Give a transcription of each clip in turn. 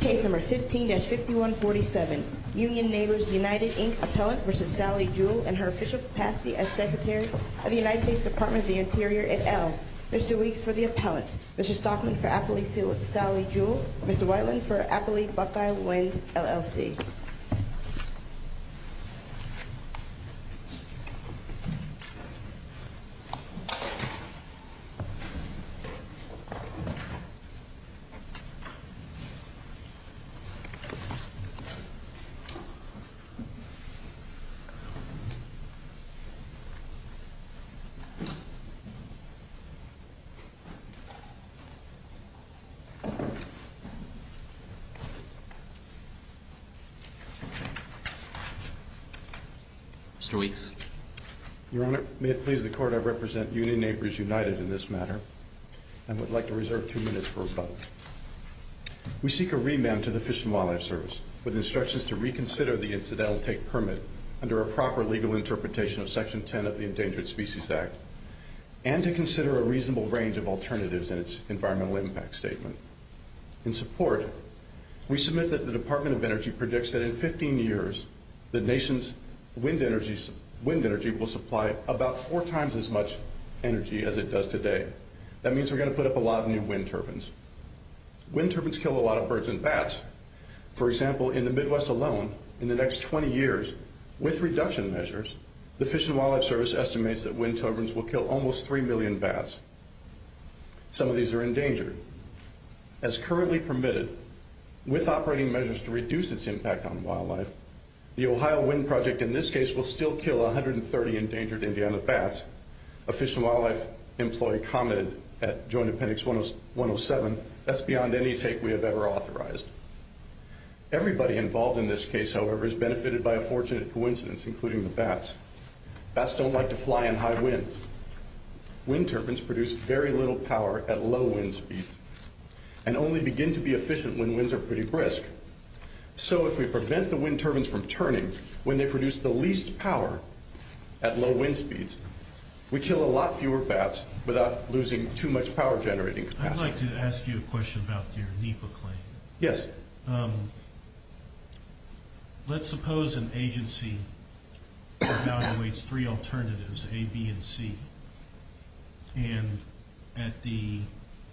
Case No. 15-5147, Union Neighbors United, Inc. Appellant v. Sally Jewell and her official capacity as Secretary of the United States Department of the Interior at Elle. Mr. Weeks for the Appellant, Mr. Stockman for Appley-Sally Jewell, Mr. Whiteland for Appley-Buckeye-Wend, LLC. Mr. Weeks. Your Honor, may it please the Court, I represent Union Neighbors United in this matter and would like to reserve two minutes for rebuttal. We seek a remand to the Fish and Wildlife Service with instructions to reconsider the incidental take permit under a proper legal interpretation of Section 10 of the Endangered Species Act and to consider a reasonable range of alternatives in its environmental impact statement. In support, we submit that the Department of Energy predicts that in 15 years, the nation's wind energy will supply about four times as much energy as it does today. That means we're going to put up a lot of new wind turbines. Wind turbines kill a lot of birds and bats. For example, in the Midwest alone, in the next 20 years, with reduction measures, the Fish and Wildlife Service estimates that wind turbines will kill almost 3 million bats. Some of these are endangered. As currently permitted, with operating measures to reduce its impact on wildlife, the Ohio Wind Project in this case will still kill 130 endangered Indiana bats. A Fish and Wildlife employee commented at Joint Appendix 107, that's beyond any take we have ever authorized. Everybody involved in this case, however, has benefited by a fortunate coincidence, including the bats. Bats don't like to fly in high winds. Wind turbines produce very little power at low wind speeds and only begin to be efficient when winds are pretty brisk. So if we prevent the wind turbines from turning when they produce the least power at low wind speeds, we kill a lot fewer bats without losing too much power generating capacity. I'd like to ask you a question about your NEPA claim. Yes. Let's suppose an agency evaluates three alternatives, A, B, and C. And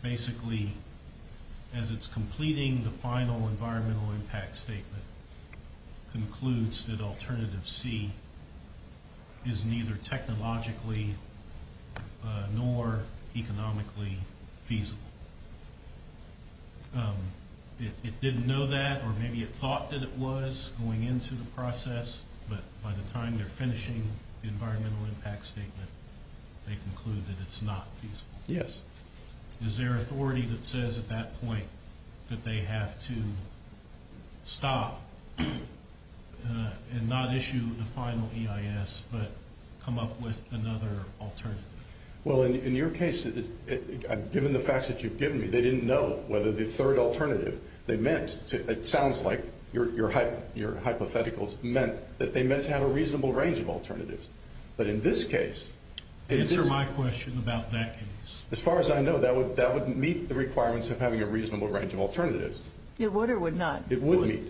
basically, as it's completing the final environmental impact statement, concludes that alternative C is neither technologically nor economically feasible. It didn't know that, or maybe it thought that it was going into the process, but by the time they're finishing the environmental impact statement, they conclude that it's not feasible. Yes. Is there authority that says at that point that they have to stop and not issue the final EIS, but come up with another alternative? Well, in your case, given the facts that you've given me, they didn't know whether the third alternative they meant, it sounds like your hypotheticals meant that they meant to have a reasonable range of alternatives. But in this case... Answer my question about that case. As far as I know, that would meet the requirements of having a reasonable range of alternatives. It would or would not? It would meet.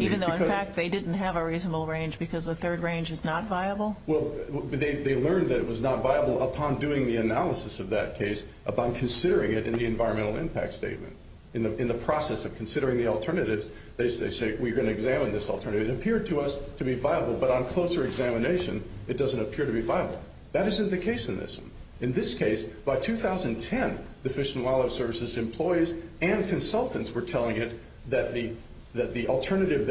Even though, in fact, they didn't have a reasonable range because the third range is not viable? Well, they learned that it was not viable upon doing the analysis of that case, upon considering it in the environmental impact statement. In the process of considering the alternatives, they say, we're going to examine this alternative. It appeared to us to be viable, but on closer examination, it doesn't appear to be viable. That isn't the case in this one. In this case, the alternative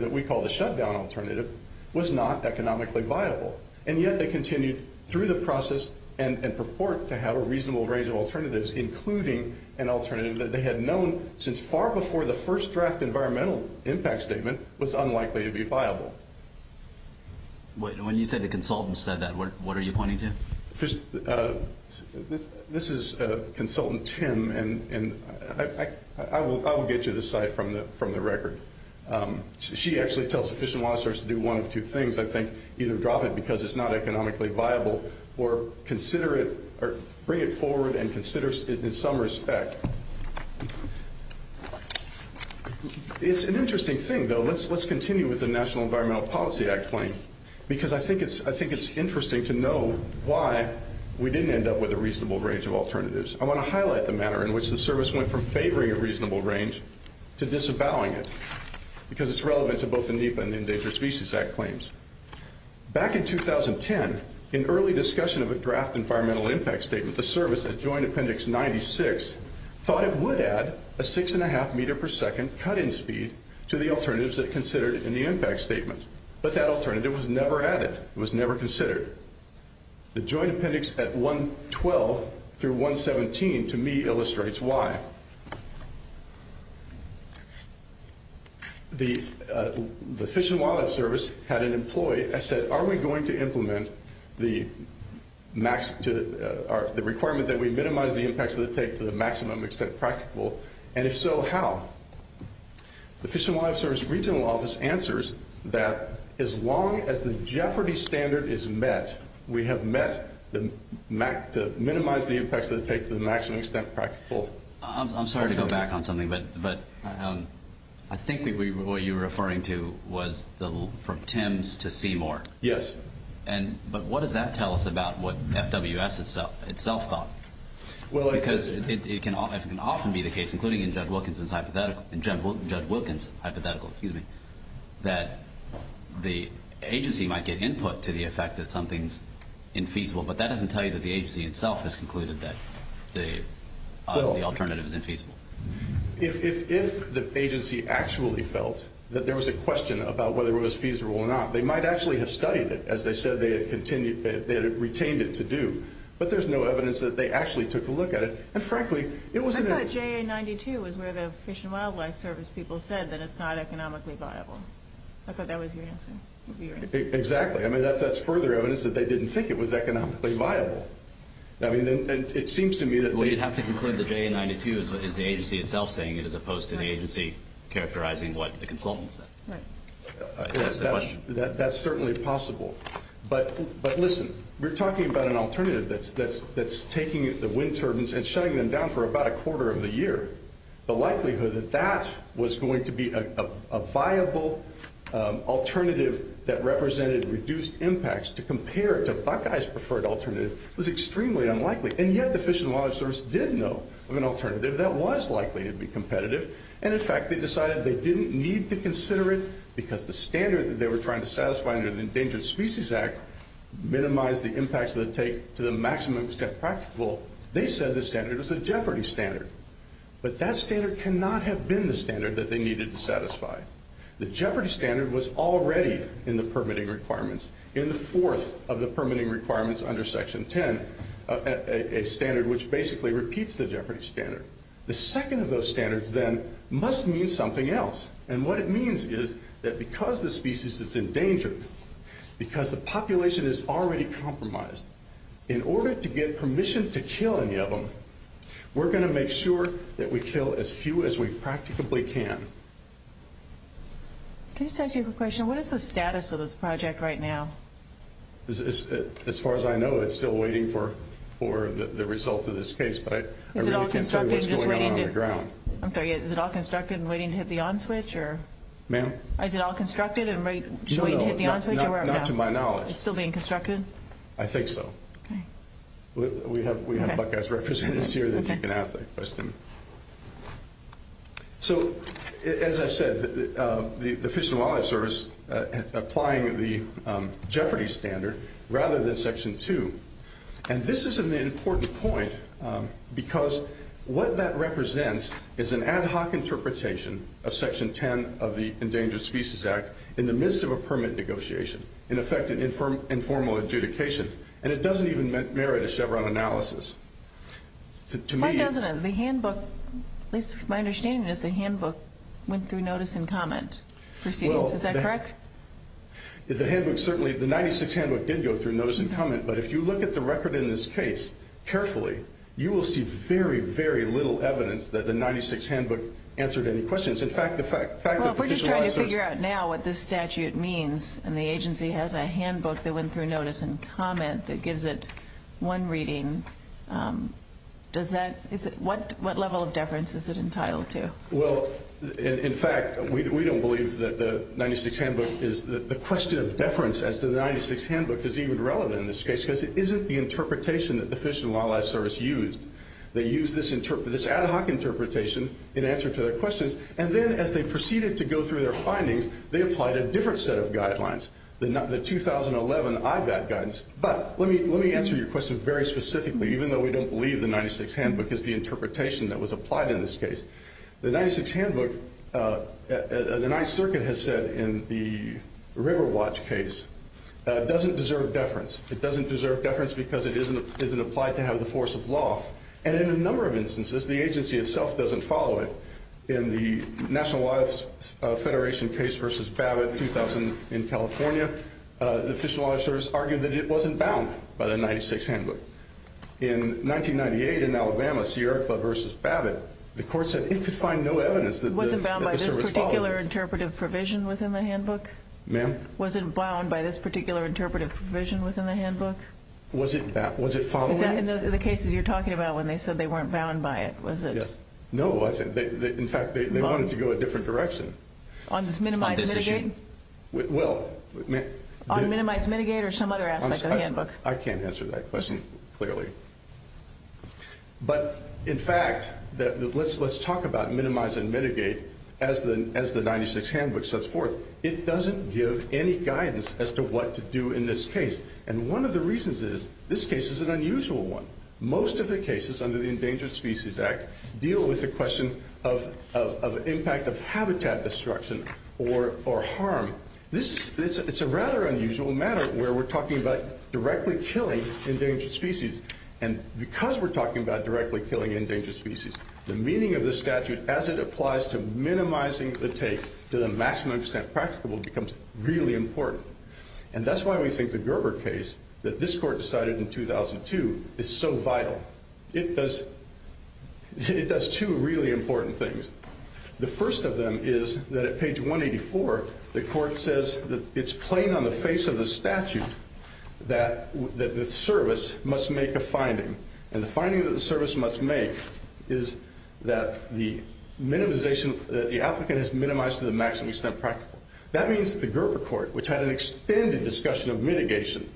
that we call the shutdown alternative was not economically viable. And yet they continued through the process and purport to have a reasonable range of alternatives, including an alternative that they had known since far before the first draft environmental impact statement was unlikely to be viable. When you say the consultant said that, what are you pointing to? This is Consultant Tim, and I will get you this slide from the record. She actually tells the Fish and Wildlife Service to do one of two things, I think. Either drop it because it's not economically viable or consider it or bring it forward and consider it in some respect. It's an interesting thing, though. Let's continue with the National Environmental Policy Act claim, because I think it's interesting to know why we didn't end up with a reasonable range of alternatives. I want to highlight the manner in which the service went from favoring a reasonable range to disavowing it, because it's relevant to both the NEPA and the Endangered Species Act claims. Back in 2010, in early discussion of a draft environmental impact statement, the service at Joint Appendix 96 thought it would add a 6.5 meter per second cut-in speed to the alternatives it considered in the impact statement. But that alternative was never added. It was never considered. The Joint Appendix at 112 through 117, to me, illustrates why. The Fish and Wildlife Service had an employee that said, Are we going to implement the requirement that we minimize the impacts of the take to the maximum extent practical? And if so, how? The Fish and Wildlife Service Regional Office answers that as long as the Jeopardy standard is met, we have met to minimize the impacts of the take to the maximum extent practical. I'm sorry to go back on something, but I think what you were referring to was the attempts to see more. Yes. But what does that tell us about what FWS itself thought? Because it can often be the case, including in Judge Wilkinson's hypothetical, that the agency might get input to the effect that something's infeasible, but that doesn't tell you that the agency itself has concluded that the alternative is infeasible. If the agency actually felt that there was a question about whether it was feasible or not, they might actually have studied it, as they said they had retained it to do. But there's no evidence that they actually took a look at it. And frankly, it wasn't a – I thought JA-92 was where the Fish and Wildlife Service people said that it's not economically viable. I thought that was your answer. Exactly. I mean, that's further evidence that they didn't think it was economically viable. I mean, and it seems to me that we – Well, you'd have to conclude that JA-92 is the agency itself saying it, as opposed to the agency characterizing what the consultants said. Right. That's the question. That's certainly possible. But listen, we're talking about an alternative that's taking the wind turbines and shutting them down for about a quarter of the year. The likelihood that that was going to be a viable alternative that represented reduced impacts to compare it to Buckeye's preferred alternative was extremely unlikely. And yet the Fish and Wildlife Service did know of an alternative that was likely to be competitive. And, in fact, they decided they didn't need to consider it because the standard that they were trying to satisfy under the Endangered Species Act minimized the impacts that it would take to the maximum extent practical. They said the standard was a jeopardy standard. But that standard cannot have been the standard that they needed to satisfy. The jeopardy standard was already in the permitting requirements, in the fourth of the permitting requirements under Section 10, a standard which basically repeats the jeopardy standard. The second of those standards, then, must mean something else. And what it means is that because the species is endangered, because the population is already compromised, in order to get permission to kill any of them, we're going to make sure that we kill as few as we practically can. Can I just ask you a question? What is the status of this project right now? As far as I know, it's still waiting for the results of this case. But I really can't tell you what's going on on the ground. I'm sorry. Is it all constructed and waiting to hit the on switch? Ma'am? Is it all constructed and waiting to hit the on switch? No, no. Not to my knowledge. It's still being constructed? I think so. Okay. We have Buckeye's representatives here that you can ask that question. So, as I said, the Fish and Wildlife Service is applying the jeopardy standard rather than Section 2. And this is an important point because what that represents is an ad hoc interpretation of Section 10 of the Endangered Species Act in the midst of a permit negotiation. In effect, an informal adjudication. And it doesn't even merit a Chevron analysis. Why doesn't it? The handbook, at least my understanding is the handbook went through notice and comment. Is that correct? The 96 handbook did go through notice and comment. But if you look at the record in this case carefully, you will see very, very little evidence that the 96 handbook answered any questions. Well, if we're just trying to figure out now what this statute means and the agency has a handbook that went through notice and comment that gives it one reading, what level of deference is it entitled to? Well, in fact, we don't believe that the 96 handbook, the question of deference as to the 96 handbook is even relevant in this case because it isn't the interpretation that the Fish and Wildlife Service used. They used this ad hoc interpretation in answer to their questions and then as they proceeded to go through their findings, they applied a different set of guidelines, the 2011 IVAD guidance. But let me answer your question very specifically, even though we don't believe the 96 handbook is the interpretation that was applied in this case. The 96 handbook, the Ninth Circuit has said in the River Watch case, doesn't deserve deference. It doesn't deserve deference because it isn't applied to have the force of law. And in a number of instances, the agency itself doesn't follow it. In the National Wildlife Federation case versus Babbitt 2000 in California, the Fish and Wildlife Service argued that it wasn't bound by the 96 handbook. In 1998 in Alabama, Sierra Club versus Babbitt, the court said it could find no evidence that the service follows. Was it bound by this particular interpretive provision within the handbook? Ma'am? Was it bound by this particular interpretive provision within the handbook? Was it following? Is that in the cases you're talking about when they said they weren't bound by it? Yes. No. In fact, they wanted to go a different direction. On this minimized mitigate? Well. On minimized mitigate or some other aspect of the handbook? I can't answer that question clearly. But in fact, let's talk about minimize and mitigate as the 96 handbook sets forth. It doesn't give any guidance as to what to do in this case. And one of the reasons is this case is an unusual one. Most of the cases under the Endangered Species Act deal with the question of impact of habitat destruction or harm. It's a rather unusual matter where we're talking about directly killing endangered species. And because we're talking about directly killing endangered species, the meaning of the statute as it applies to minimizing the take to the maximum extent practicable becomes really important. And that's why we think the Gerber case that this court decided in 2002 is so vital. It does two really important things. The first of them is that at page 184, the court says that it's plain on the face of the statute that the service must make a finding. And the finding that the service must make is that the application is minimized to the maximum extent practicable. That means the Gerber court, which had an extended discussion of mitigation,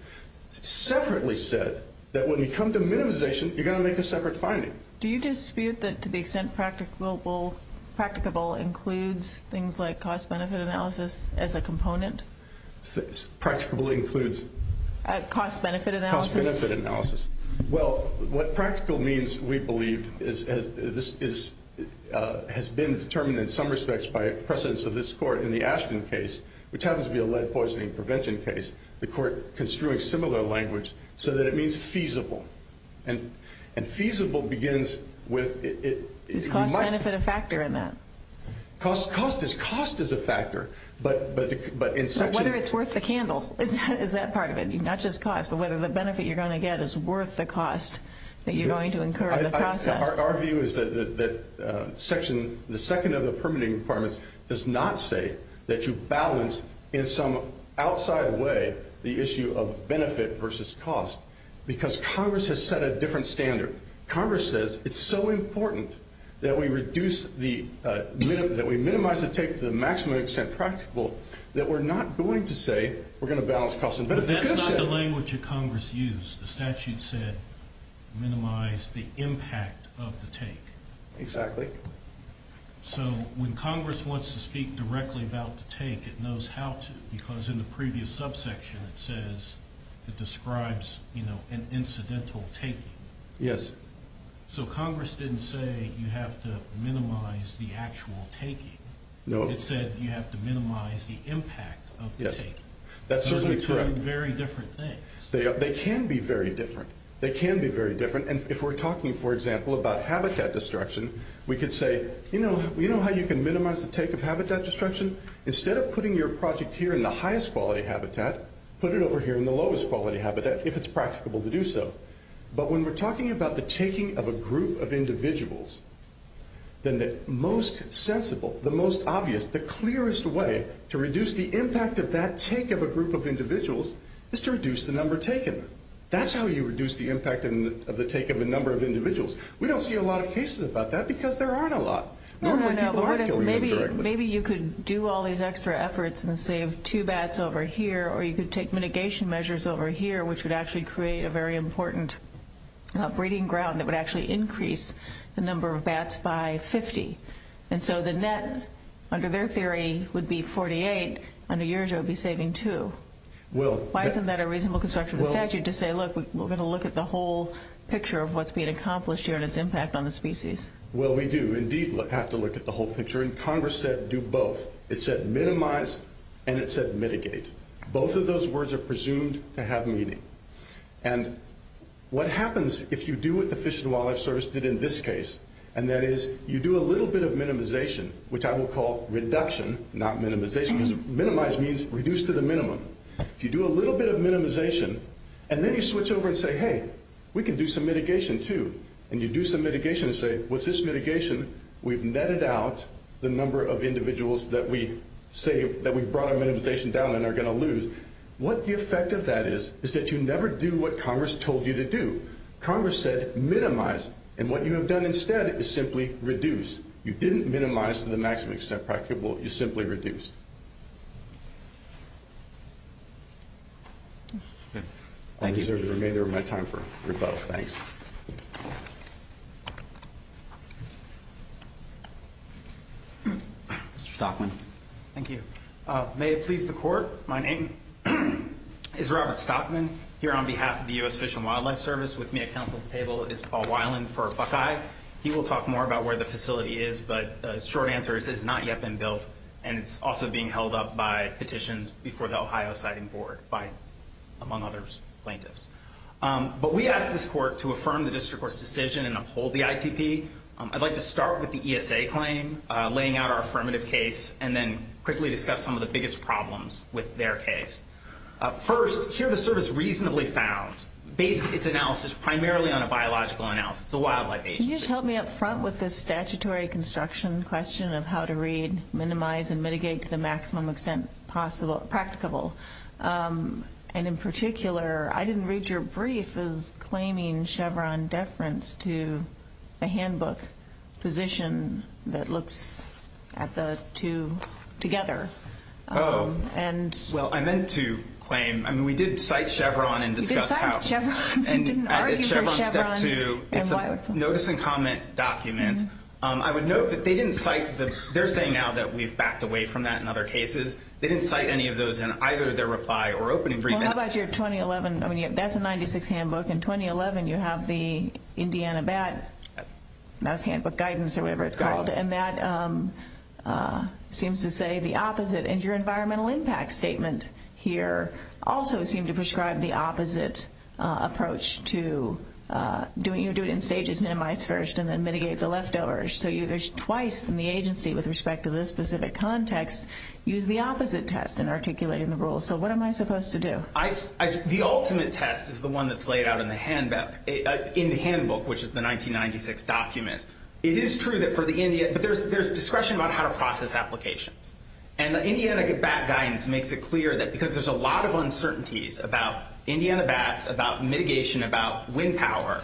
separately said that when you come to minimization, you're going to make a separate finding. Do you dispute that to the extent practicable includes things like cost-benefit analysis as a component? Practicable includes? Cost-benefit analysis. Cost-benefit analysis. Well, what practical means, we believe, has been determined in some respects by precedence of this court in the Ashton case, which happens to be a lead poisoning prevention case. The court construed similar language so that it means feasible. And feasible begins with- Is cost-benefit a factor in that? Cost is a factor, but in section- But whether it's worth the candle is that part of it. Not just cost, but whether the benefit you're going to get is worth the cost that you're going to incur in the process. Our view is that the second of the permitting requirements does not say that you balance, in some outside way, the issue of benefit versus cost because Congress has set a different standard. Congress says it's so important that we minimize the take to the maximum extent practical that we're not going to say we're going to balance cost and benefit. But that's not the language that Congress used. The statute said minimize the impact of the take. Exactly. So when Congress wants to speak directly about the take, it knows how to, because in the previous subsection it says it describes an incidental taking. Yes. So Congress didn't say you have to minimize the actual taking. No. It said you have to minimize the impact of the take. That's certainly true. Those are two very different things. They can be very different. They can be very different. And if we're talking, for example, about habitat destruction, we could say, you know how you can minimize the take of habitat destruction? Instead of putting your project here in the highest quality habitat, put it over here in the lowest quality habitat if it's practicable to do so. But when we're talking about the taking of a group of individuals, then the most sensible, the most obvious, the clearest way to reduce the impact of that take of a group of individuals is to reduce the number taken. That's how you reduce the impact of the take of a number of individuals. We don't see a lot of cases about that because there aren't a lot. Normally people are killing them directly. Maybe you could do all these extra efforts and save two bats over here, or you could take mitigation measures over here, which would actually create a very important breeding ground that would actually increase the number of bats by 50. And so the net, under their theory, would be 48. Under yours it would be saving two. Why isn't that a reasonable construction of the statute to say, look, we're going to look at the whole picture of what's being accomplished here and its impact on the species? Well, we do indeed have to look at the whole picture. And Congress said do both. It said minimize and it said mitigate. Both of those words are presumed to have meaning. And what happens if you do what the Fish and Wildlife Service did in this case, and that is you do a little bit of minimization, which I will call reduction, not minimization, because minimize means reduce to the minimum. If you do a little bit of minimization and then you switch over and say, hey, we can do some mitigation too, and you do some mitigation and say with this mitigation we've netted out the number of individuals that we've brought our minimization down and are going to lose, what the effect of that is is that you never do what Congress told you to do. Congress said minimize. And what you have done instead is simply reduce. You didn't minimize to the maximum extent practicable. You simply reduced. Thank you. I'll reserve the remainder of my time for rebuttal. Thanks. Mr. Stockman. Thank you. May it please the court. My name is Robert Stockman. Here on behalf of the U.S. Fish and Wildlife Service with me at council's table is Paul Weiland for Buckeye. He will talk more about where the facility is, but the short answer is it has not yet been built, and it's also being held up by petitions before the Ohio Siding Board, among other plaintiffs. But we ask this court to affirm the district court's decision and uphold the ITP. I'd like to start with the ESA claim, laying out our affirmative case, and then quickly discuss some of the biggest problems with their case. First, here the service reasonably found, based its analysis primarily on a biological analysis. It's a wildlife agency. Can you just help me up front with this statutory construction question of how to read, minimize, and mitigate to the maximum extent practicable? And in particular, I didn't read your brief as claiming Chevron deference to a handbook position that looks at the two together. Oh. Well, I meant to claim. I mean, we did cite Chevron and discuss how. You did cite Chevron. You didn't argue for Chevron. It's a notice and comment document. I would note that they didn't cite the they're saying now that we've backed away from that in other cases. They didn't cite any of those in either their reply or opening brief. Well, how about your 2011? I mean, that's a 96 handbook. In 2011, you have the Indiana BAT, not a handbook, guidance or whatever it's called, and that seems to say the opposite. And your environmental impact statement here also seemed to prescribe the opposite approach to doing it. You do it in stages, minimize first, and then mitigate the leftovers. So there's twice in the agency with respect to this specific context use the opposite test in articulating the rules. So what am I supposed to do? The ultimate test is the one that's laid out in the handbook, which is the 1996 document. It is true that for the Indian, but there's discretion about how to process applications. And the Indiana BAT guidance makes it clear that because there's a lot of uncertainties about Indiana BATs, about mitigation, about wind power,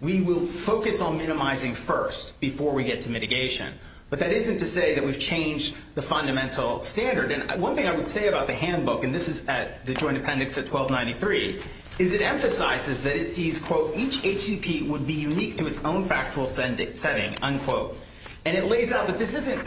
we will focus on minimizing first before we get to mitigation. But that isn't to say that we've changed the fundamental standard. And one thing I would say about the handbook, and this is at the Joint Appendix at 1293, is it emphasizes that it sees, quote, each HCP would be unique to its own factual setting, unquote. And it lays out that this isn't,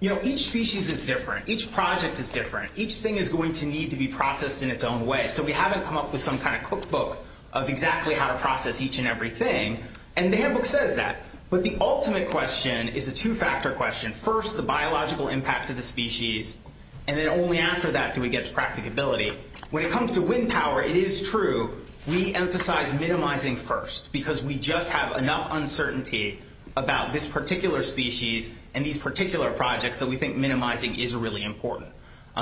you know, each species is different. Each project is different. Each thing is going to need to be processed in its own way. So we haven't come up with some kind of cookbook of exactly how to process each and every thing. And the handbook says that. But the ultimate question is a two-factor question. First, the biological impact to the species. And then only after that do we get to practicability. When it comes to wind power, it is true we emphasize minimizing first because we just have enough uncertainty about this particular species and these particular projects that we think minimizing is really important.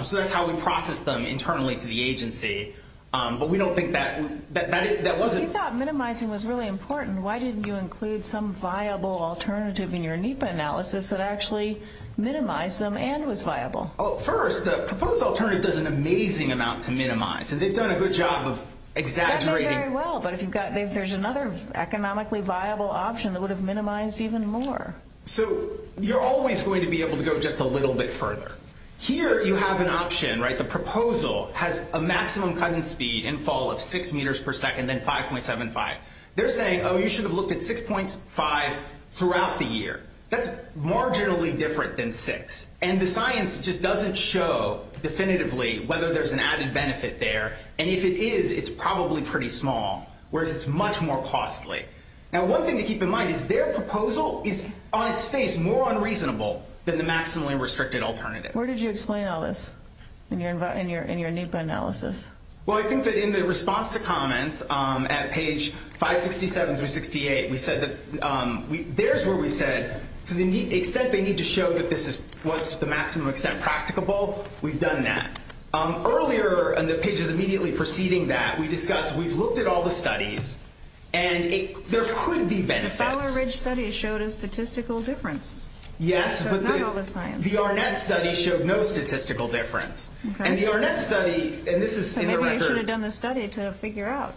So that's how we process them internally to the agency. But we don't think that that wasn't. If you thought minimizing was really important, why didn't you include some viable alternative in your NEPA analysis that actually minimized them and was viable? First, the proposed alternative does an amazing amount to minimize, and they've done a good job of exaggerating. That may be very well, but if there's another economically viable option that would have minimized even more. So you're always going to be able to go just a little bit further. Here you have an option, right? The proposal has a maximum cut-in speed in fall of 6 meters per second and 5.75. They're saying, oh, you should have looked at 6.5 throughout the year. That's marginally different than 6, and the science just doesn't show definitively whether there's an added benefit there, and if it is, it's probably pretty small, whereas it's much more costly. Now one thing to keep in mind is their proposal is on its face more unreasonable than the maximally restricted alternative. Where did you explain all this in your NEPA analysis? Well, I think that in the response to comments at page 567 through 68, we said that there's where we said to the extent they need to show that this is what's the maximum extent practicable, we've done that. Earlier in the pages immediately preceding that, we discussed we've looked at all the studies, and there could be benefits. The Fowler Ridge study showed a statistical difference. Yes, but the Arnett study showed no statistical difference. And the Arnett study, and this is in the record. Maybe you should have done the study to figure out.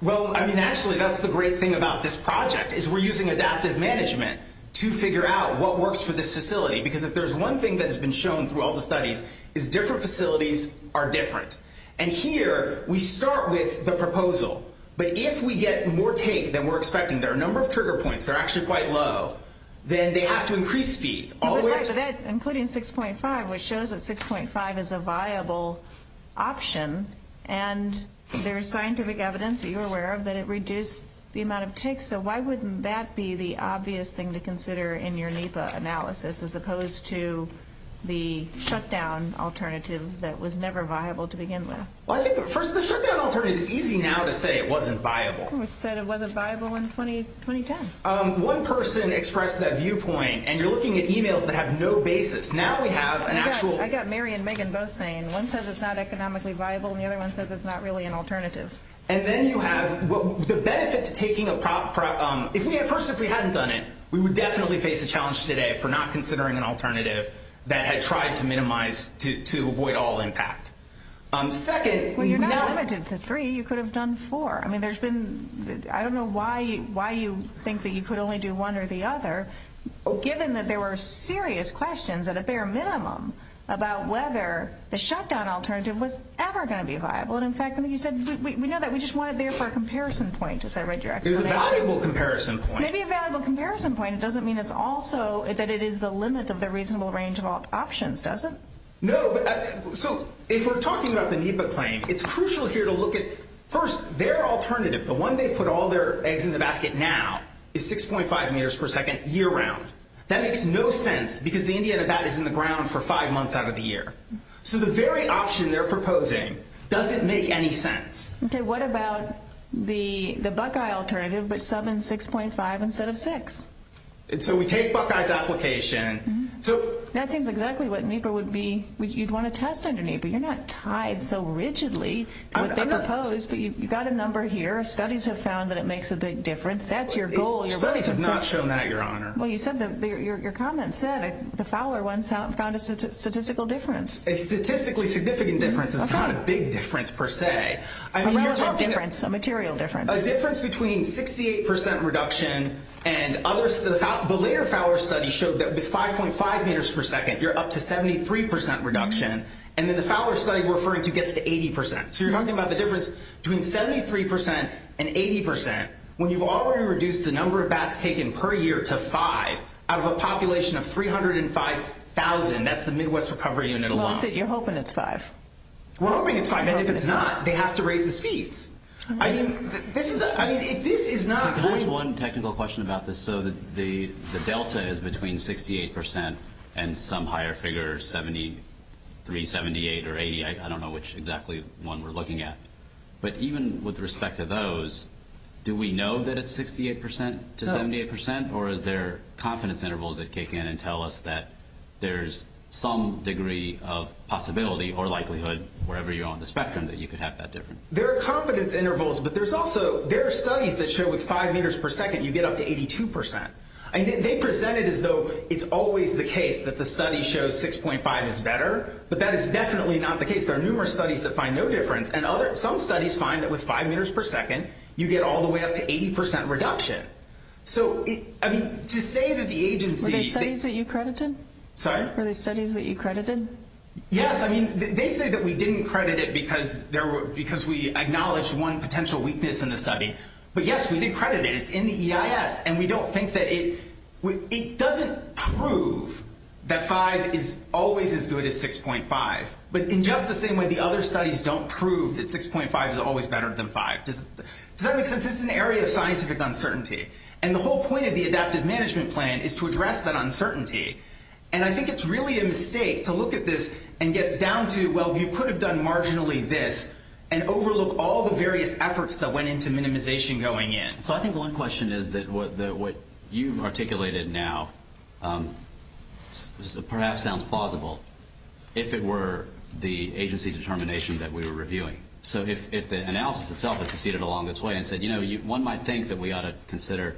Well, I mean, actually, that's the great thing about this project is we're using adaptive management to figure out what works for this facility, because if there's one thing that has been shown through all the studies is different facilities are different, and here we start with the proposal, but if we get more take than we're expecting, there are a number of trigger points that are actually quite low, then they have to increase speeds. Including 6.5, which shows that 6.5 is a viable option, and there is scientific evidence that you're aware of that it reduced the amount of take. So why wouldn't that be the obvious thing to consider in your NEPA analysis as opposed to the shutdown alternative that was never viable to begin with? Well, I think at first the shutdown alternative is easy now to say it wasn't viable. It was said it wasn't viable in 2010. One person expressed that viewpoint, and you're looking at e-mails that have no basis. Now we have an actual... I got Mary and Megan both saying one says it's not economically viable, and the other one says it's not really an alternative. And then you have the benefit to taking a... First, if we hadn't done it, we would definitely face a challenge today for not considering an alternative that had tried to minimize, to avoid all impact. Second... Well, you're not limited to three. You could have done four. I mean, there's been... I don't know why you think that you could only do one or the other, given that there were serious questions at a bare minimum about whether the shutdown alternative was ever going to be viable. And, in fact, you said we know that we just want it there for a comparison point, as I read your explanation. It was a valuable comparison point. It may be a valuable comparison point. It doesn't mean it's also that it is the limit of the reasonable range of options, does it? No, but... So if we're talking about the NEPA claim, it's crucial here to look at, first, their alternative, the one they put all their eggs in the basket now, is 6.5 meters per second year-round. That makes no sense, because the Indiana bat is in the ground for five months out of the year. So the very option they're proposing doesn't make any sense. Okay, what about the Buckeye alternative, but subbing 6.5 instead of 6? So we take Buckeye's application... That seems exactly what NEPA would be... you'd want to test under NEPA. You're not tied so rigidly to what they propose, but you've got a number here. Studies have found that it makes a big difference. That's your goal. Studies have not shown that, Your Honor. Well, your comment said the Fowler one found a statistical difference. A statistically significant difference is not a big difference per se. A relative difference, a material difference. A difference between 68% reduction and others. The later Fowler study showed that with 5.5 meters per second, you're up to 73% reduction, and then the Fowler study we're referring to gets to 80%. So you're talking about the difference between 73% and 80% when you've already reduced the number of bats taken per year to 5 out of a population of 305,000. That's the Midwest Recovery Unit alone. Well, you said you're hoping it's 5. We're hoping it's 5, and if it's not, they have to raise the speeds. I mean, this is not... Can I ask one technical question about this? So the delta is between 68% and some higher figure, 73%, 78%, or 80%. I don't know which exactly one we're looking at. But even with respect to those, do we know that it's 68% to 78%? Or is there confidence intervals that kick in and tell us that there's some degree of possibility or likelihood, wherever you are on the spectrum, that you could have that difference? There are confidence intervals, but there are studies that show with 5 meters per second, you get up to 82%. They present it as though it's always the case that the study shows 6.5 is better, but that is definitely not the case. There are numerous studies that find no difference, and some studies find that with 5 meters per second, you get all the way up to 80% reduction. So, I mean, to say that the agency... Were there studies that you credited? Sorry? Were there studies that you credited? Yes, I mean, they say that we didn't credit it because we acknowledged one potential weakness in the study. But yes, we did credit it. It's in the EIS, and we don't think that it... It doesn't prove that 5 is always as good as 6.5. But in just the same way, the other studies don't prove that 6.5 is always better than 5. Does that make sense? This is an area of scientific uncertainty. And the whole point of the adaptive management plan is to address that uncertainty. And I think it's really a mistake to look at this and get down to, well, you could have done marginally this and overlook all the various efforts that went into minimization going in. So I think one question is that what you've articulated now perhaps sounds plausible if it were the agency determination that we were reviewing. So if the analysis itself had proceeded along this way and said, you know, one might think that we ought to consider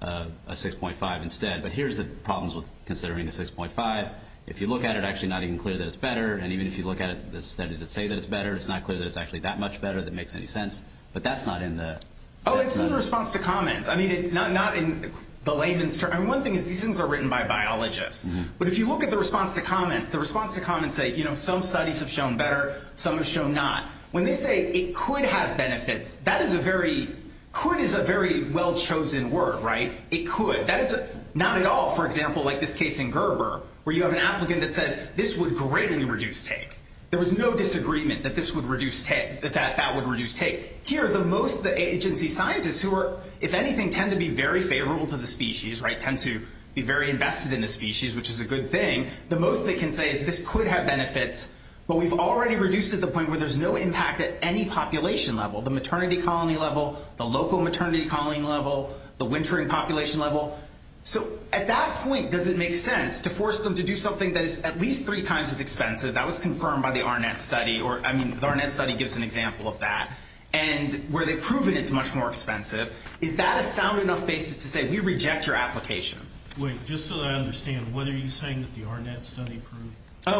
a 6.5 instead, but here's the problems with considering a 6.5. If you look at it, it's actually not even clear that it's better. And even if you look at the studies that say that it's better, it's not clear that it's actually that much better, if that makes any sense. But that's not in the... Oh, it's in the response to comments. I mean, it's not in the layman's term. I mean, one thing is these things are written by biologists. But if you look at the response to comments, the response to comments say, you know, some studies have shown better, some have shown not. When they say it could have benefits, that is a very... Could is a very well-chosen word, right? It could. That is not at all, for example, like this case in Gerber, where you have an applicant that says this would greatly reduce take. There was no disagreement that this would reduce take, that that would reduce take. Here, the most agency scientists who are, if anything, tend to be very favorable to the species, right, tend to be very invested in the species, which is a good thing. The most they can say is this could have benefits, but we've already reduced it to the point where there's no impact at any population level, the maternity colony level, the local maternity colony level, the wintering population level. So at that point, does it make sense to force them to do something that is at least three times as expensive? That was confirmed by the Arnett study, or, I mean, the Arnett study gives an example of that. And where they've proven it's much more expensive, is that a sound enough basis to say we reject your application? Wait, just so that I understand, what are you saying that the Arnett study proved?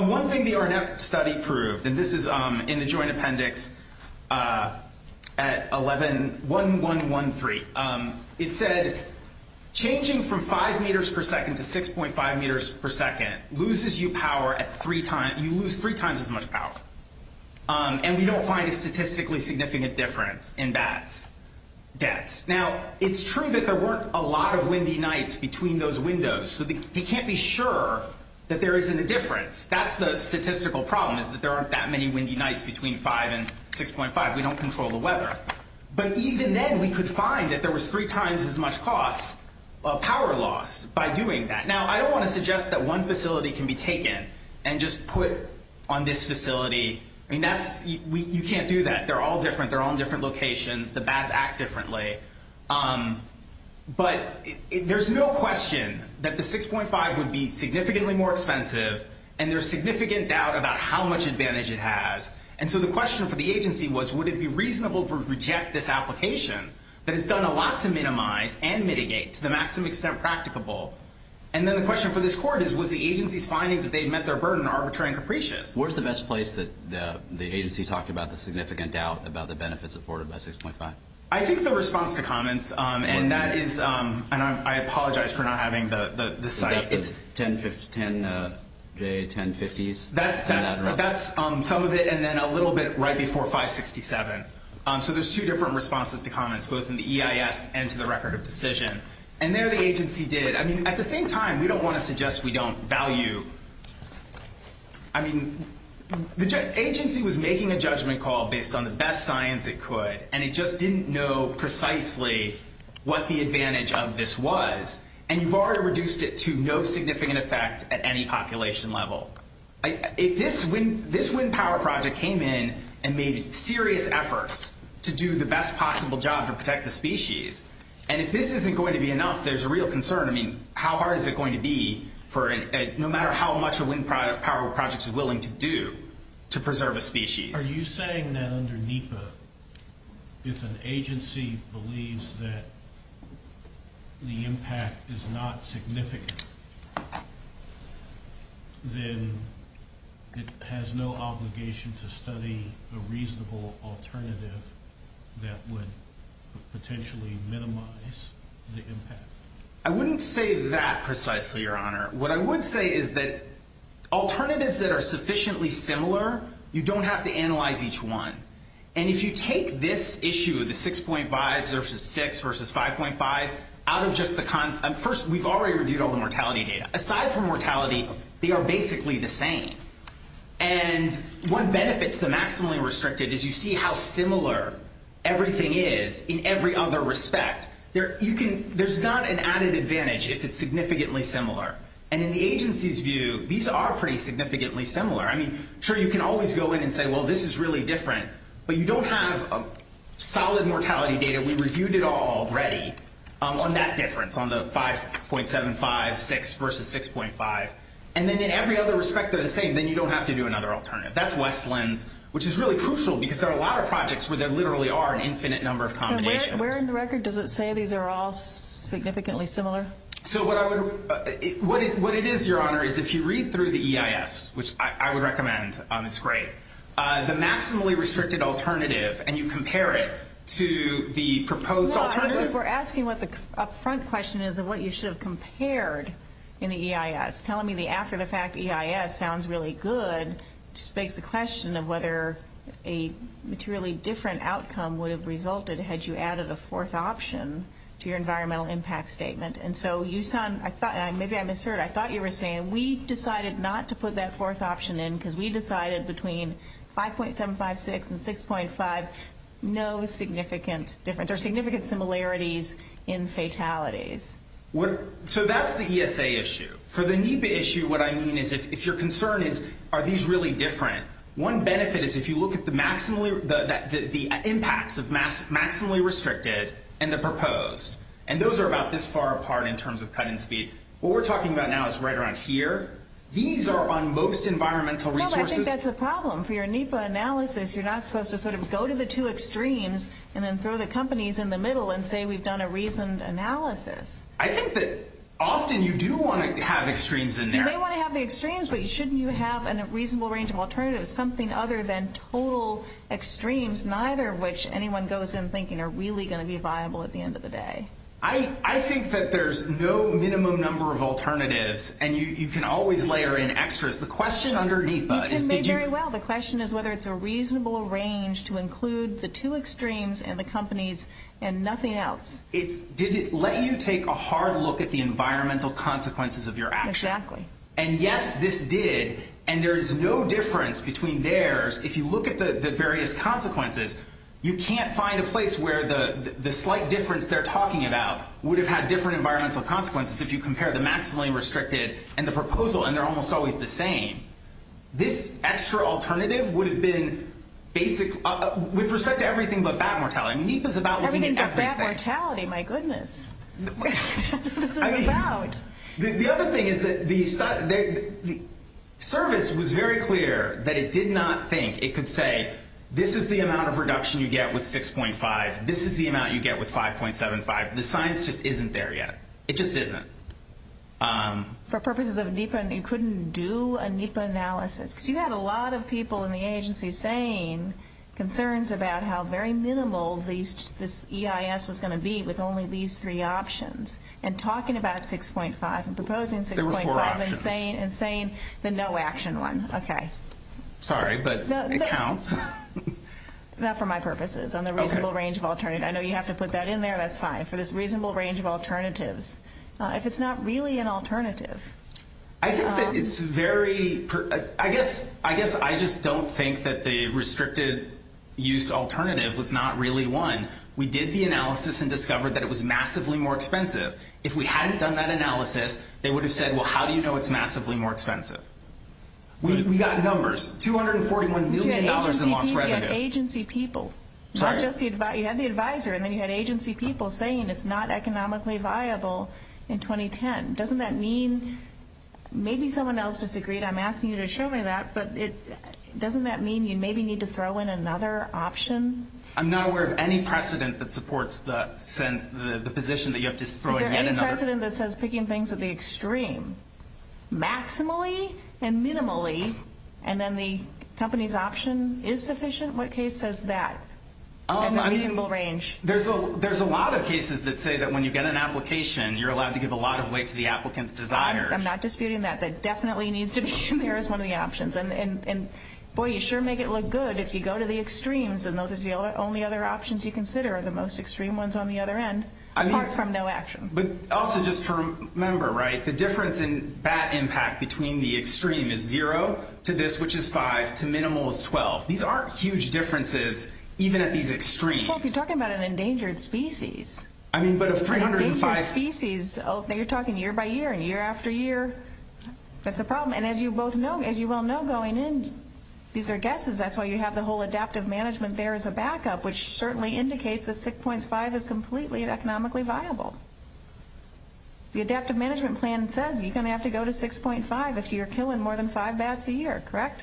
One thing the Arnett study proved, and this is in the joint appendix at 11.1113, it said changing from five meters per second to 6.5 meters per second loses you power at three times, you lose three times as much power. And we don't find a statistically significant difference in bats' deaths. Now, it's true that there weren't a lot of windy nights between those windows, so they can't be sure that there isn't a difference. That's the statistical problem, is that there aren't that many windy nights between five and 6.5. We don't control the weather. But even then, we could find that there was three times as much cost of power loss by doing that. Now, I don't want to suggest that one facility can be taken and just put on this facility. I mean, you can't do that. They're all different. They're all in different locations. The bats act differently. But there's no question that the 6.5 would be significantly more expensive, and there's significant doubt about how much advantage it has. And so the question for the agency was, would it be reasonable to reject this application that has done a lot to minimize and mitigate to the maximum extent practicable? And then the question for this court is, was the agency's finding that they had met their burden arbitrary and capricious? Where's the best place that the agency talked about the significant doubt about the benefits afforded by 6.5? I think the response to comments, and that is, and I apologize for not having the site. Is that the 10J1050s? That's some of it, and then a little bit right before 567. So there's two different responses to comments, both in the EIS and to the record of decision. And there the agency did. I mean, at the same time, we don't want to suggest we don't value. I mean, the agency was making a judgment call based on the best science it could, and it just didn't know precisely what the advantage of this was. And you've already reduced it to no significant effect at any population level. If this wind power project came in and made serious efforts to do the best possible job to protect the species, and if this isn't going to be enough, there's a real concern. I mean, how hard is it going to be for no matter how much a wind power project is willing to do to preserve a species? Are you saying that under NEPA, if an agency believes that the impact is not significant, then it has no obligation to study a reasonable alternative that would potentially minimize the impact? I wouldn't say that precisely, Your Honor. What I would say is that alternatives that are sufficiently similar, you don't have to analyze each one. And if you take this issue, the 6.5 versus 6 versus 5.5, out of just the kind of – first, we've already reviewed all the mortality data. Aside from mortality, they are basically the same. And one benefit to the maximally restricted is you see how similar everything is in every other respect. There's not an added advantage if it's significantly similar. And in the agency's view, these are pretty significantly similar. I mean, sure, you can always go in and say, well, this is really different, but you don't have solid mortality data. We reviewed it all already on that difference, on the 5.756 versus 6.5. And then in every other respect, they're the same. Then you don't have to do another alternative. That's Westlands, which is really crucial because there are a lot of projects where there literally are an infinite number of combinations. Where in the record does it say these are all significantly similar? So what I would – what it is, Your Honor, is if you read through the EIS, which I would recommend, it's great, the maximally restricted alternative, and you compare it to the proposed alternative. Well, I think we're asking what the up-front question is of what you should have compared in the EIS. Telling me the after-the-fact EIS sounds really good just begs the question of whether a materially different outcome would have resulted had you added a fourth option to your environmental impact statement. And so you sound – maybe I'm assertive. I thought you were saying we decided not to put that fourth option in because we decided between 5.756 and 6.5, no significant difference or significant similarities in fatalities. So that's the ESA issue. For the NEPA issue, what I mean is if your concern is are these really different, one benefit is if you look at the impacts of maximally restricted and the proposed, and those are about this far apart in terms of cut in speed. What we're talking about now is right around here. These are on most environmental resources. Well, I think that's a problem. For your NEPA analysis, you're not supposed to sort of go to the two extremes and then throw the companies in the middle and say we've done a reasoned analysis. I think that often you do want to have extremes in there. You may want to have the extremes, but shouldn't you have a reasonable range of alternatives, something other than total extremes, neither of which anyone goes in thinking are really going to be viable at the end of the day? I think that there's no minimum number of alternatives, and you can always layer in extras. The question under NEPA is did you – You can say very well. The question is whether it's a reasonable range to include the two extremes and the companies and nothing else. Did it let you take a hard look at the environmental consequences of your action? Exactly. And yes, this did, and there is no difference between theirs. If you look at the various consequences, you can't find a place where the slight difference they're talking about would have had different environmental consequences if you compare the maximally restricted and the proposal, and they're almost always the same. This extra alternative would have been basic with respect to everything but bat mortality. NEPA is about looking at everything. Everything but bat mortality. My goodness. That's what this is about. The other thing is that the service was very clear that it did not think it could say this is the amount of reduction you get with 6.5. This is the amount you get with 5.75. The science just isn't there yet. It just isn't. For purposes of NEPA, you couldn't do a NEPA analysis because you had a lot of people in the agency saying concerns about how very minimal this EIS was going to be with only these three options, and talking about 6.5 and proposing 6.5 and saying the no action one. Okay. Sorry, but it counts. Not for my purposes. On the reasonable range of alternatives. I know you have to put that in there. That's fine. For this reasonable range of alternatives. If it's not really an alternative. I think that it's very, I guess I just don't think that the restricted use alternative was not really one. We did the analysis and discovered that it was massively more expensive. If we hadn't done that analysis, they would have said, well, how do you know it's massively more expensive? We got numbers. $241 million in lost revenue. You had agency people. Sorry. You had the advisor and then you had agency people saying it's not economically viable in 2010. Doesn't that mean maybe someone else disagreed. I'm asking you to show me that, but doesn't that mean you maybe need to throw in another option? I'm not aware of any precedent that supports the position that you have to throw in yet another. Is there any precedent that says picking things at the extreme, maximally and minimally, and then the company's option is sufficient? What case says that? As a reasonable range. There's a lot of cases that say that when you get an application, you're allowed to give a lot of weight to the applicant's desire. I'm not disputing that. That definitely needs to be in there as one of the options. And, boy, you sure make it look good if you go to the extremes. And those are the only other options you consider are the most extreme ones on the other end, apart from no action. But also just remember, right, the difference in BAT impact between the extreme is zero to this, which is five, to minimal is 12. These aren't huge differences even at these extremes. Well, if you're talking about an endangered species. I mean, but of 305. Endangered species. You're talking year by year and year after year. That's a problem. And as you both know, as you well know going in, these are guesses. That's why you have the whole adaptive management there as a backup, which certainly indicates that 6.5 is completely economically viable. The adaptive management plan says you're going to have to go to 6.5 if you're killing more than five bats a year, correct?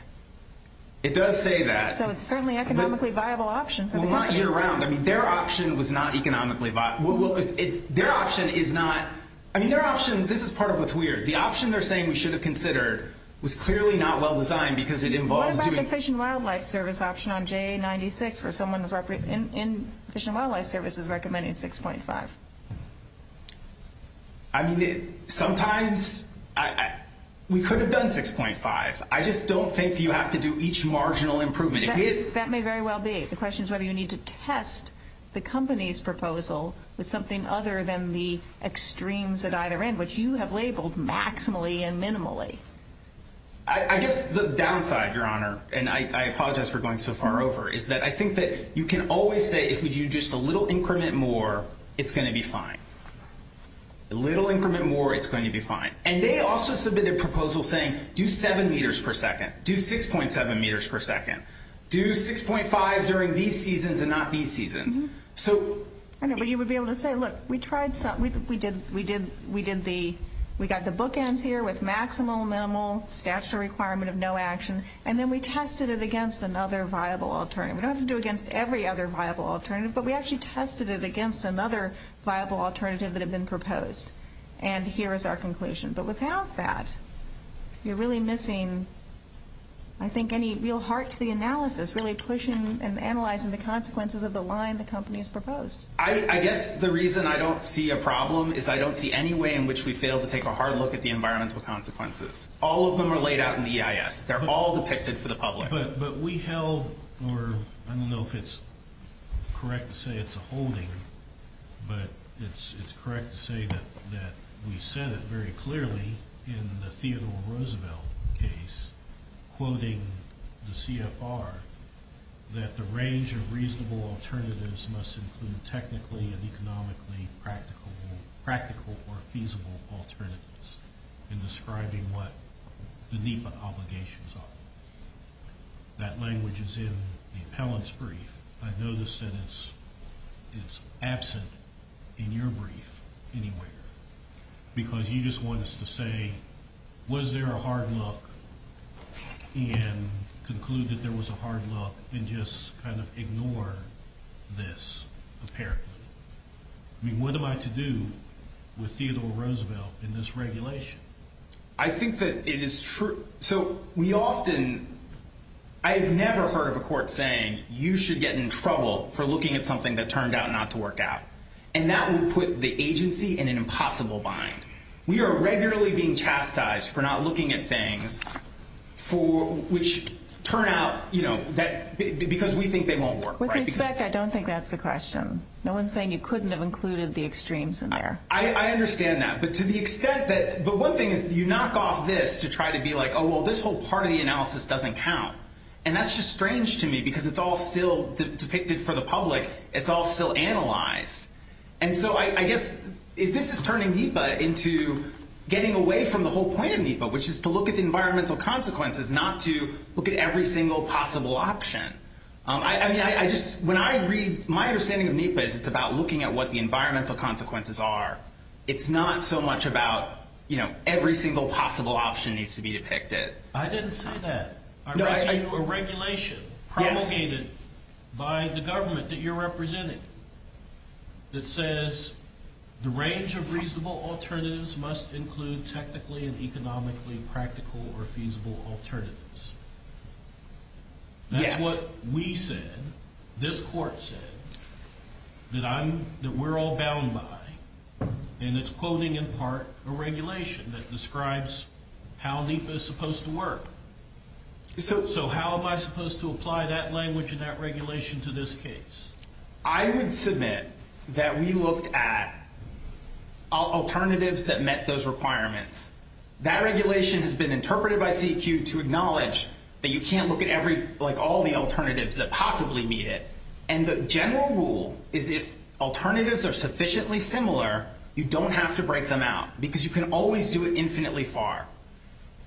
It does say that. So it's certainly economically viable option for the company. Well, not year round. I mean, their option was not economically viable. Their option is not. I mean, their option. This is part of what's weird. The option they're saying we should have considered was clearly not well designed because it involves doing. The Fish and Wildlife Service option on J96 for someone in Fish and Wildlife Service is recommending 6.5. I mean, sometimes we could have done 6.5. I just don't think you have to do each marginal improvement. That may very well be. The question is whether you need to test the company's proposal with something other than the extremes at either end, which you have labeled maximally and minimally. I guess the downside, Your Honor, and I apologize for going so far over, is that I think that you can always say if you do just a little increment more, it's going to be fine. A little increment more, it's going to be fine. And they also submitted a proposal saying do 7 meters per second. Do 6.7 meters per second. Do 6.5 during these seasons and not these seasons. I know, but you would be able to say, look, we got the bookends here with maximal, minimal, statutory requirement of no action, and then we tested it against another viable alternative. We don't have to do it against every other viable alternative, but we actually tested it against another viable alternative that had been proposed. And here is our conclusion. But without that, you're really missing, I think, any real heart to the analysis, really pushing and analyzing the consequences of the line the company has proposed. I guess the reason I don't see a problem is I don't see any way in which we failed to take a hard look at the environmental consequences. All of them are laid out in the EIS. They're all depicted for the public. But we held, or I don't know if it's correct to say it's a holding, but it's correct to say that we said it very clearly in the Theodore Roosevelt case, quoting the CFR, that the range of reasonable alternatives must include technically and economically practical or feasible alternatives in describing what the NEPA obligations are. That language is in the appellant's brief. I noticed that it's absent in your brief anywhere because you just want us to say, was there a hard look and conclude that there was a hard look and just kind of ignore this apparently. I mean, what am I to do with Theodore Roosevelt in this regulation? I think that it is true. So we often, I have never heard of a court saying you should get in trouble for looking at something that turned out not to work out. And that would put the agency in an impossible bind. We are regularly being chastised for not looking at things which turn out, you know, because we think they won't work. With respect, I don't think that's the question. No one's saying you couldn't have included the extremes in there. I understand that. But to the extent that, but one thing is you knock off this to try to be like, oh, well, this whole part of the analysis doesn't count. And that's just strange to me because it's all still depicted for the public. It's all still analyzed. And so I guess if this is turning NEPA into getting away from the whole point of NEPA, which is to look at the environmental consequences, not to look at every single possible option. I mean, I just, when I read, my understanding of NEPA is it's about looking at what the environmental consequences are. It's not so much about, you know, every single possible option needs to be depicted. I didn't say that. I read to you a regulation promulgated by the government that you're representing that says the range of reasonable alternatives must include technically and economically practical or feasible alternatives. Yes. That's what we said, this court said, that I'm, that we're all bound by. And it's quoting in part a regulation that describes how NEPA is supposed to work. So how am I supposed to apply that language and that regulation to this case? I would submit that we looked at alternatives that met those requirements. That regulation has been interpreted by CEQ to acknowledge that you can't look at every, like all the alternatives that possibly meet it. And the general rule is if alternatives are sufficiently similar, you don't have to break them out because you can always do it infinitely far.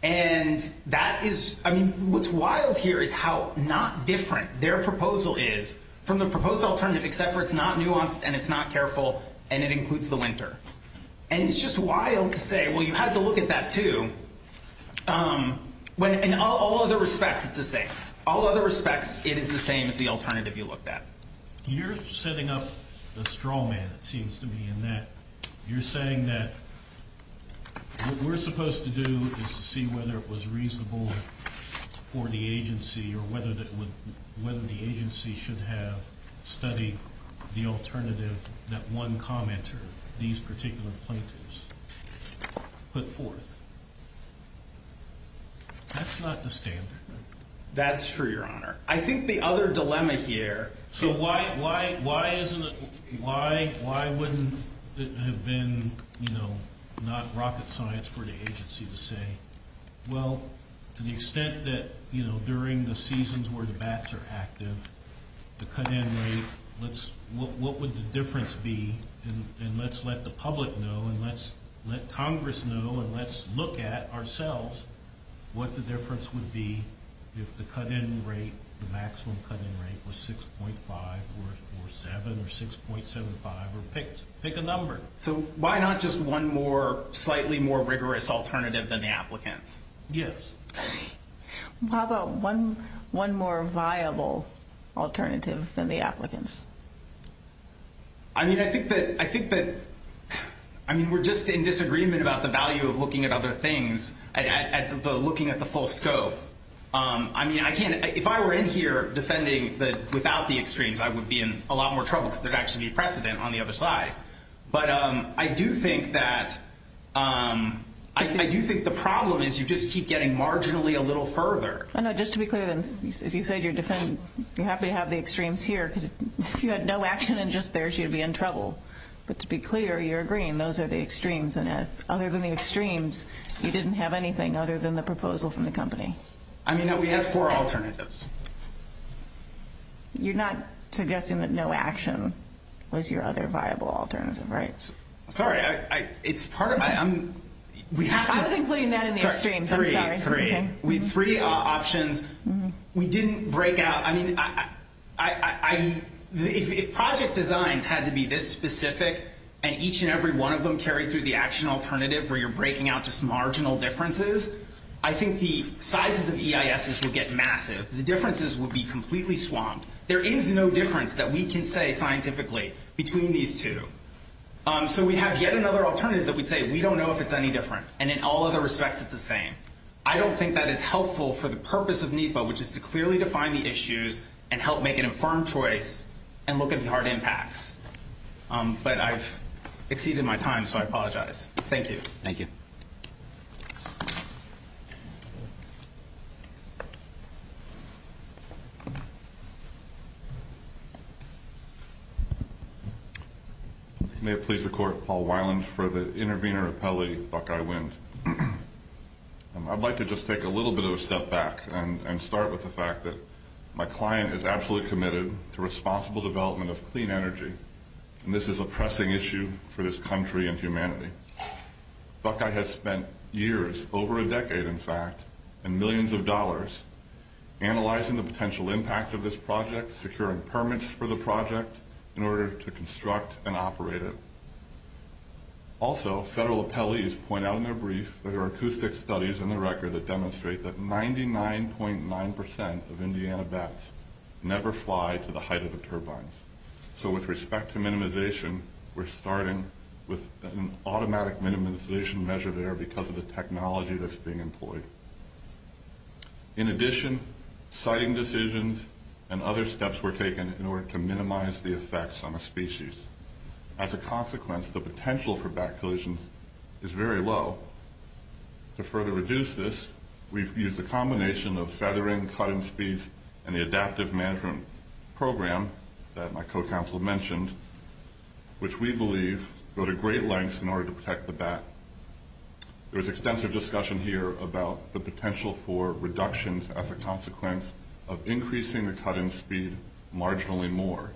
And that is, I mean, what's wild here is how not different their proposal is from the proposed alternative, except for it's not nuanced and it's not careful and it includes the winter. And it's just wild to say, well, you have to look at that too. When, in all other respects, it's the same. All other respects, it is the same as the alternative you looked at. You're setting up a straw man, it seems to me, in that you're saying that what we're supposed to do is to see whether it was reasonable for the agency or whether the agency should have studied the alternative that one commenter, these particular plaintiffs, put forth. That's not the standard. That's true, Your Honor. I think the other dilemma here... So why wouldn't it have been not rocket science for the agency to say, well, to the extent that during the seasons where the bats are active, the cut-in rate, what would the difference be? And let's let the public know and let's let Congress know and let's look at ourselves what the difference would be if the cut-in rate, the maximum cut-in rate, was 6.5 or 7 or 6.75 or pick a number. So why not just one more, slightly more rigorous alternative than the applicants? Yes. How about one more viable alternative than the applicants? I mean, I think that we're just in disagreement about the value of looking at other things, looking at the full scope. I mean, if I were in here defending without the extremes, I would be in a lot more trouble because there would actually be precedent on the other side. But I do think that the problem is you just keep getting marginally a little further. I know. Just to be clear, as you said, you're happy to have the extremes here because if you had no action and just theirs, you'd be in trouble. But to be clear, you're agreeing those are the extremes. And other than the extremes, you didn't have anything other than the proposal from the company. I mean, we had four alternatives. You're not suggesting that no action was your other viable alternative, right? Sorry. It's part of my – we have to – I was including that in the extremes. I'm sorry. Three. Three. We had three options. We didn't break out – I mean, if project designs had to be this specific and each and every one of them carried through the action alternative where you're breaking out just marginal differences, I think the sizes of EISs would get massive. The differences would be completely swamped. There is no difference that we can say scientifically between these two. So we have yet another alternative that we'd say we don't know if it's any different. And in all other respects, it's the same. I don't think that is helpful for the purpose of NEPA, which is to clearly define the issues and help make an infirm choice and look at the hard impacts. But I've exceeded my time, so I apologize. Thank you. Thank you. Thank you. May it please the Court, Paul Weiland for the intervener appellee, Buckeye Wind. I'd like to just take a little bit of a step back and start with the fact that my client is absolutely committed to responsible development of clean energy, and this is a pressing issue for this country and humanity. Buckeye has spent years, over a decade in fact, and millions of dollars, analyzing the potential impact of this project, securing permits for the project in order to construct and operate it. Also, federal appellees point out in their brief that there are acoustic studies in the record that demonstrate that 99.9% of Indiana bats never fly to the height of the turbines. So with respect to minimization, we're starting with an automatic minimization measure there because of the technology that's being employed. In addition, siting decisions and other steps were taken in order to minimize the effects on the species. As a consequence, the potential for bat collisions is very low. To further reduce this, we've used a combination of feathering, cut-in speeds, and the adaptive management program that my co-counsel mentioned, which we believe go to great lengths in order to protect the bat. There was extensive discussion here about the potential for reductions as a consequence of increasing the cut-in speed marginally more.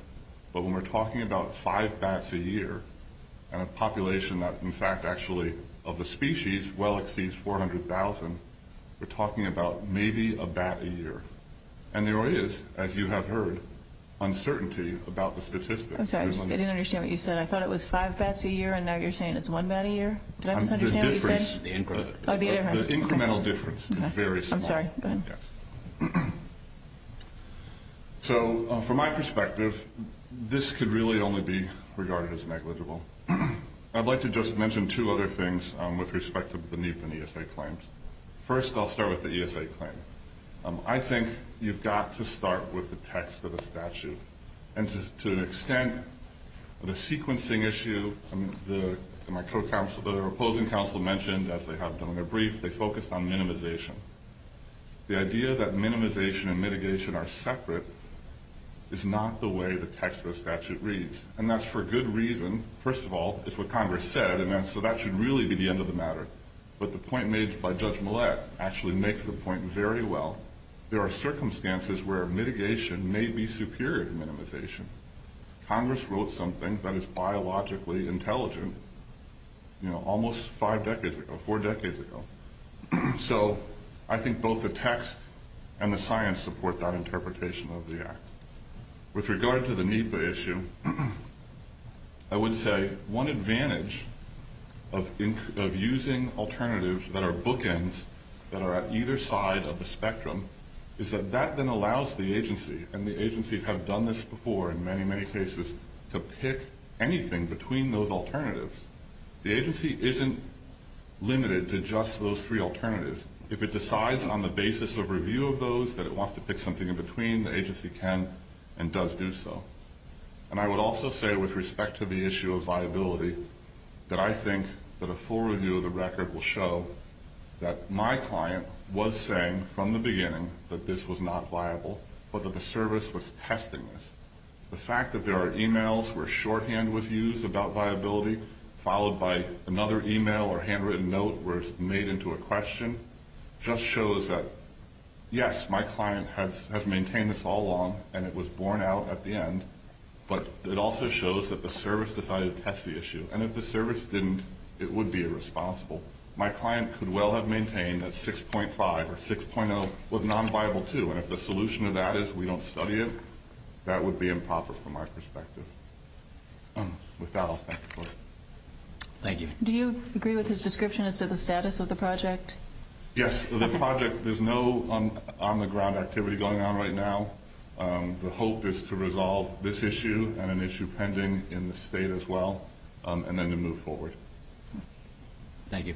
But when we're talking about five bats a year, and a population that in fact actually, of the species, well exceeds 400,000, we're talking about maybe a bat a year. And there is, as you have heard, uncertainty about the statistics. I'm sorry, I didn't understand what you said. I thought it was five bats a year, and now you're saying it's one bat a year? Did I misunderstand what you said? The incremental difference is very small. I'm sorry, go ahead. Yes. So, from my perspective, this could really only be regarded as negligible. I'd like to just mention two other things with respect to the NEPA and ESA claims. First, I'll start with the ESA claim. I think you've got to start with the text of the statute. And to an extent, the sequencing issue, my co-counsel, the opposing counsel mentioned, as they have done in their brief, they focused on minimization. The idea that minimization and mitigation are separate is not the way the text of the statute reads. And that's for good reason. First of all, it's what Congress said, and so that should really be the end of the matter. But the point made by Judge Millett actually makes the point very well. There are circumstances where mitigation may be superior to minimization. Congress wrote something that is biologically intelligent, you know, almost five decades ago, four decades ago. So I think both the text and the science support that interpretation of the act. With regard to the NEPA issue, I would say one advantage of using alternatives that are bookends, that are at either side of the spectrum, is that that then allows the agency, and the agencies have done this before in many, many cases, to pick anything between those alternatives. The agency isn't limited to just those three alternatives. If it decides on the basis of review of those that it wants to pick something in between, the agency can and does do so. And I would also say, with respect to the issue of viability, that I think that a full review of the record will show that my client was saying, from the beginning, that this was not viable, but that the service was testing this. The fact that there are emails where shorthand was used about viability, followed by another email or handwritten note where it's made into a question, just shows that, yes, my client has maintained this all along, and it was borne out at the end. But it also shows that the service decided to test the issue. And if the service didn't, it would be irresponsible. My client could well have maintained that 6.5 or 6.0 was nonviable, too. And if the solution to that is we don't study it, that would be improper from our perspective. With that, I'll thank the board. Thank you. Do you agree with his description as to the status of the project? Yes. The project, there's no on-the-ground activity going on right now. The hope is to resolve this issue and an issue pending in the state as well, and then to move forward. Thank you.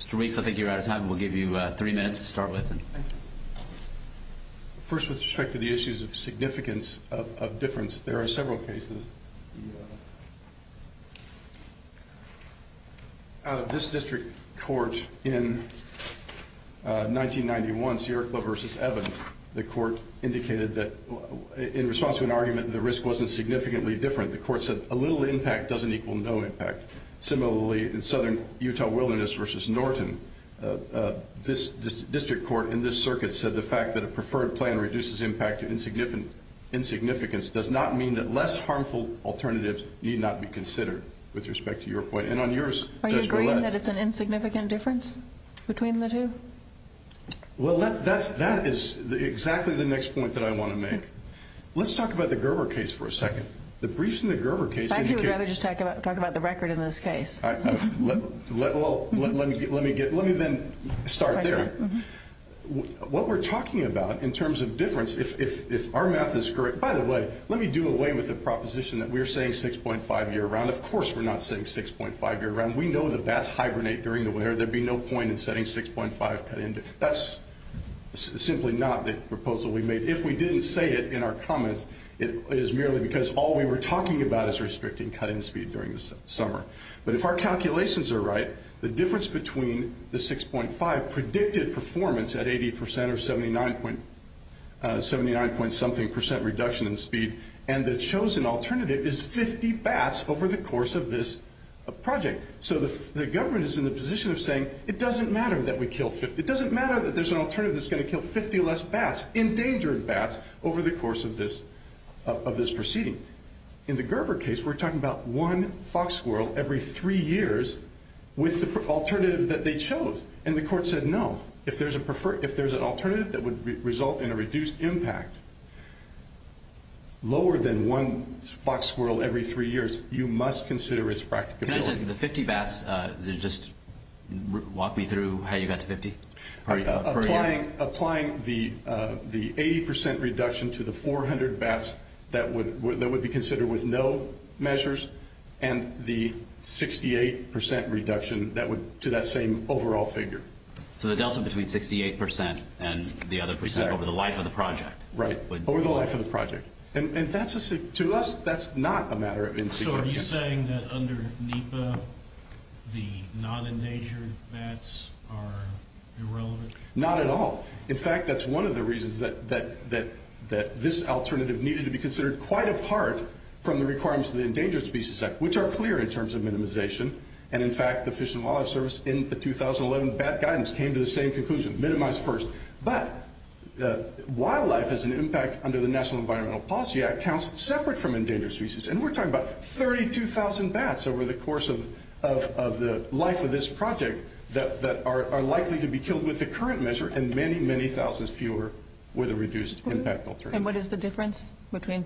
Mr. Weeks, I think you're out of time. We'll give you three minutes to start with. First, with respect to the issues of significance of difference, there are several cases. Out of this district court in 1991, Sierra Club v. Evans, the court indicated that in response to an argument that the risk wasn't significantly different, the court said a little impact doesn't equal no impact. Similarly, in Southern Utah Wilderness v. Norton, this district court in this circuit said the fact that a preferred plan reduces impact to insignificance does not mean that less harmful alternatives need not be considered with respect to your point. And on yours, Judge Goulet. Are you agreeing that it's an insignificant difference between the two? Well, that is exactly the next point that I want to make. Let's talk about the Gerber case for a second. The briefs in the Gerber case indicate- I think you'd rather just talk about the record in this case. Well, let me then start there. What we're talking about in terms of difference, if our math is correct- By the way, let me do away with the proposition that we're saying 6.5 year round. Of course we're not saying 6.5 year round. We know the bats hibernate during the winter. There'd be no point in setting 6.5 cut into it. That's simply not the proposal we made. If we didn't say it in our comments, it is merely because all we were talking about is restricting cutting speed during the summer. But if our calculations are right, the difference between the 6.5 predicted performance at 80% or 79 point something percent reduction in speed, and the chosen alternative is 50 bats over the course of this project. So the government is in the position of saying it doesn't matter that we kill 50. There's going to be less bats, endangered bats, over the course of this proceeding. In the Gerber case, we're talking about one fox squirrel every three years with the alternative that they chose. And the court said no. If there's an alternative that would result in a reduced impact lower than one fox squirrel every three years, you must consider its practicability. Can I just- the 50 bats, just walk me through how you got to 50? Applying the 80% reduction to the 400 bats that would be considered with no measures and the 68% reduction to that same overall figure. So the delta between 68% and the other percent over the life of the project. Right, over the life of the project. And to us, that's not a matter of insecurity. So are you saying that under NEPA, the non-endangered bats are irrelevant? Not at all. In fact, that's one of the reasons that this alternative needed to be considered quite apart from the requirements of the Endangered Species Act, which are clear in terms of minimization. And in fact, the Fish and Wildlife Service in the 2011 bat guidance came to the same conclusion, minimize first. But wildlife has an impact under the National Environmental Policy Act separate from endangered species. And we're talking about 32,000 bats over the course of the life of this project that are likely to be killed with the current measure and many, many thousands fewer with a reduced impact alternative. And what is the difference between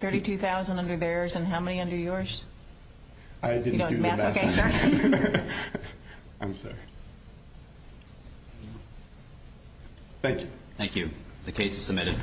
32,000 under theirs and how many under yours? I didn't do the math. Okay, sorry. I'm sorry. Thank you. Thank you. The case is submitted.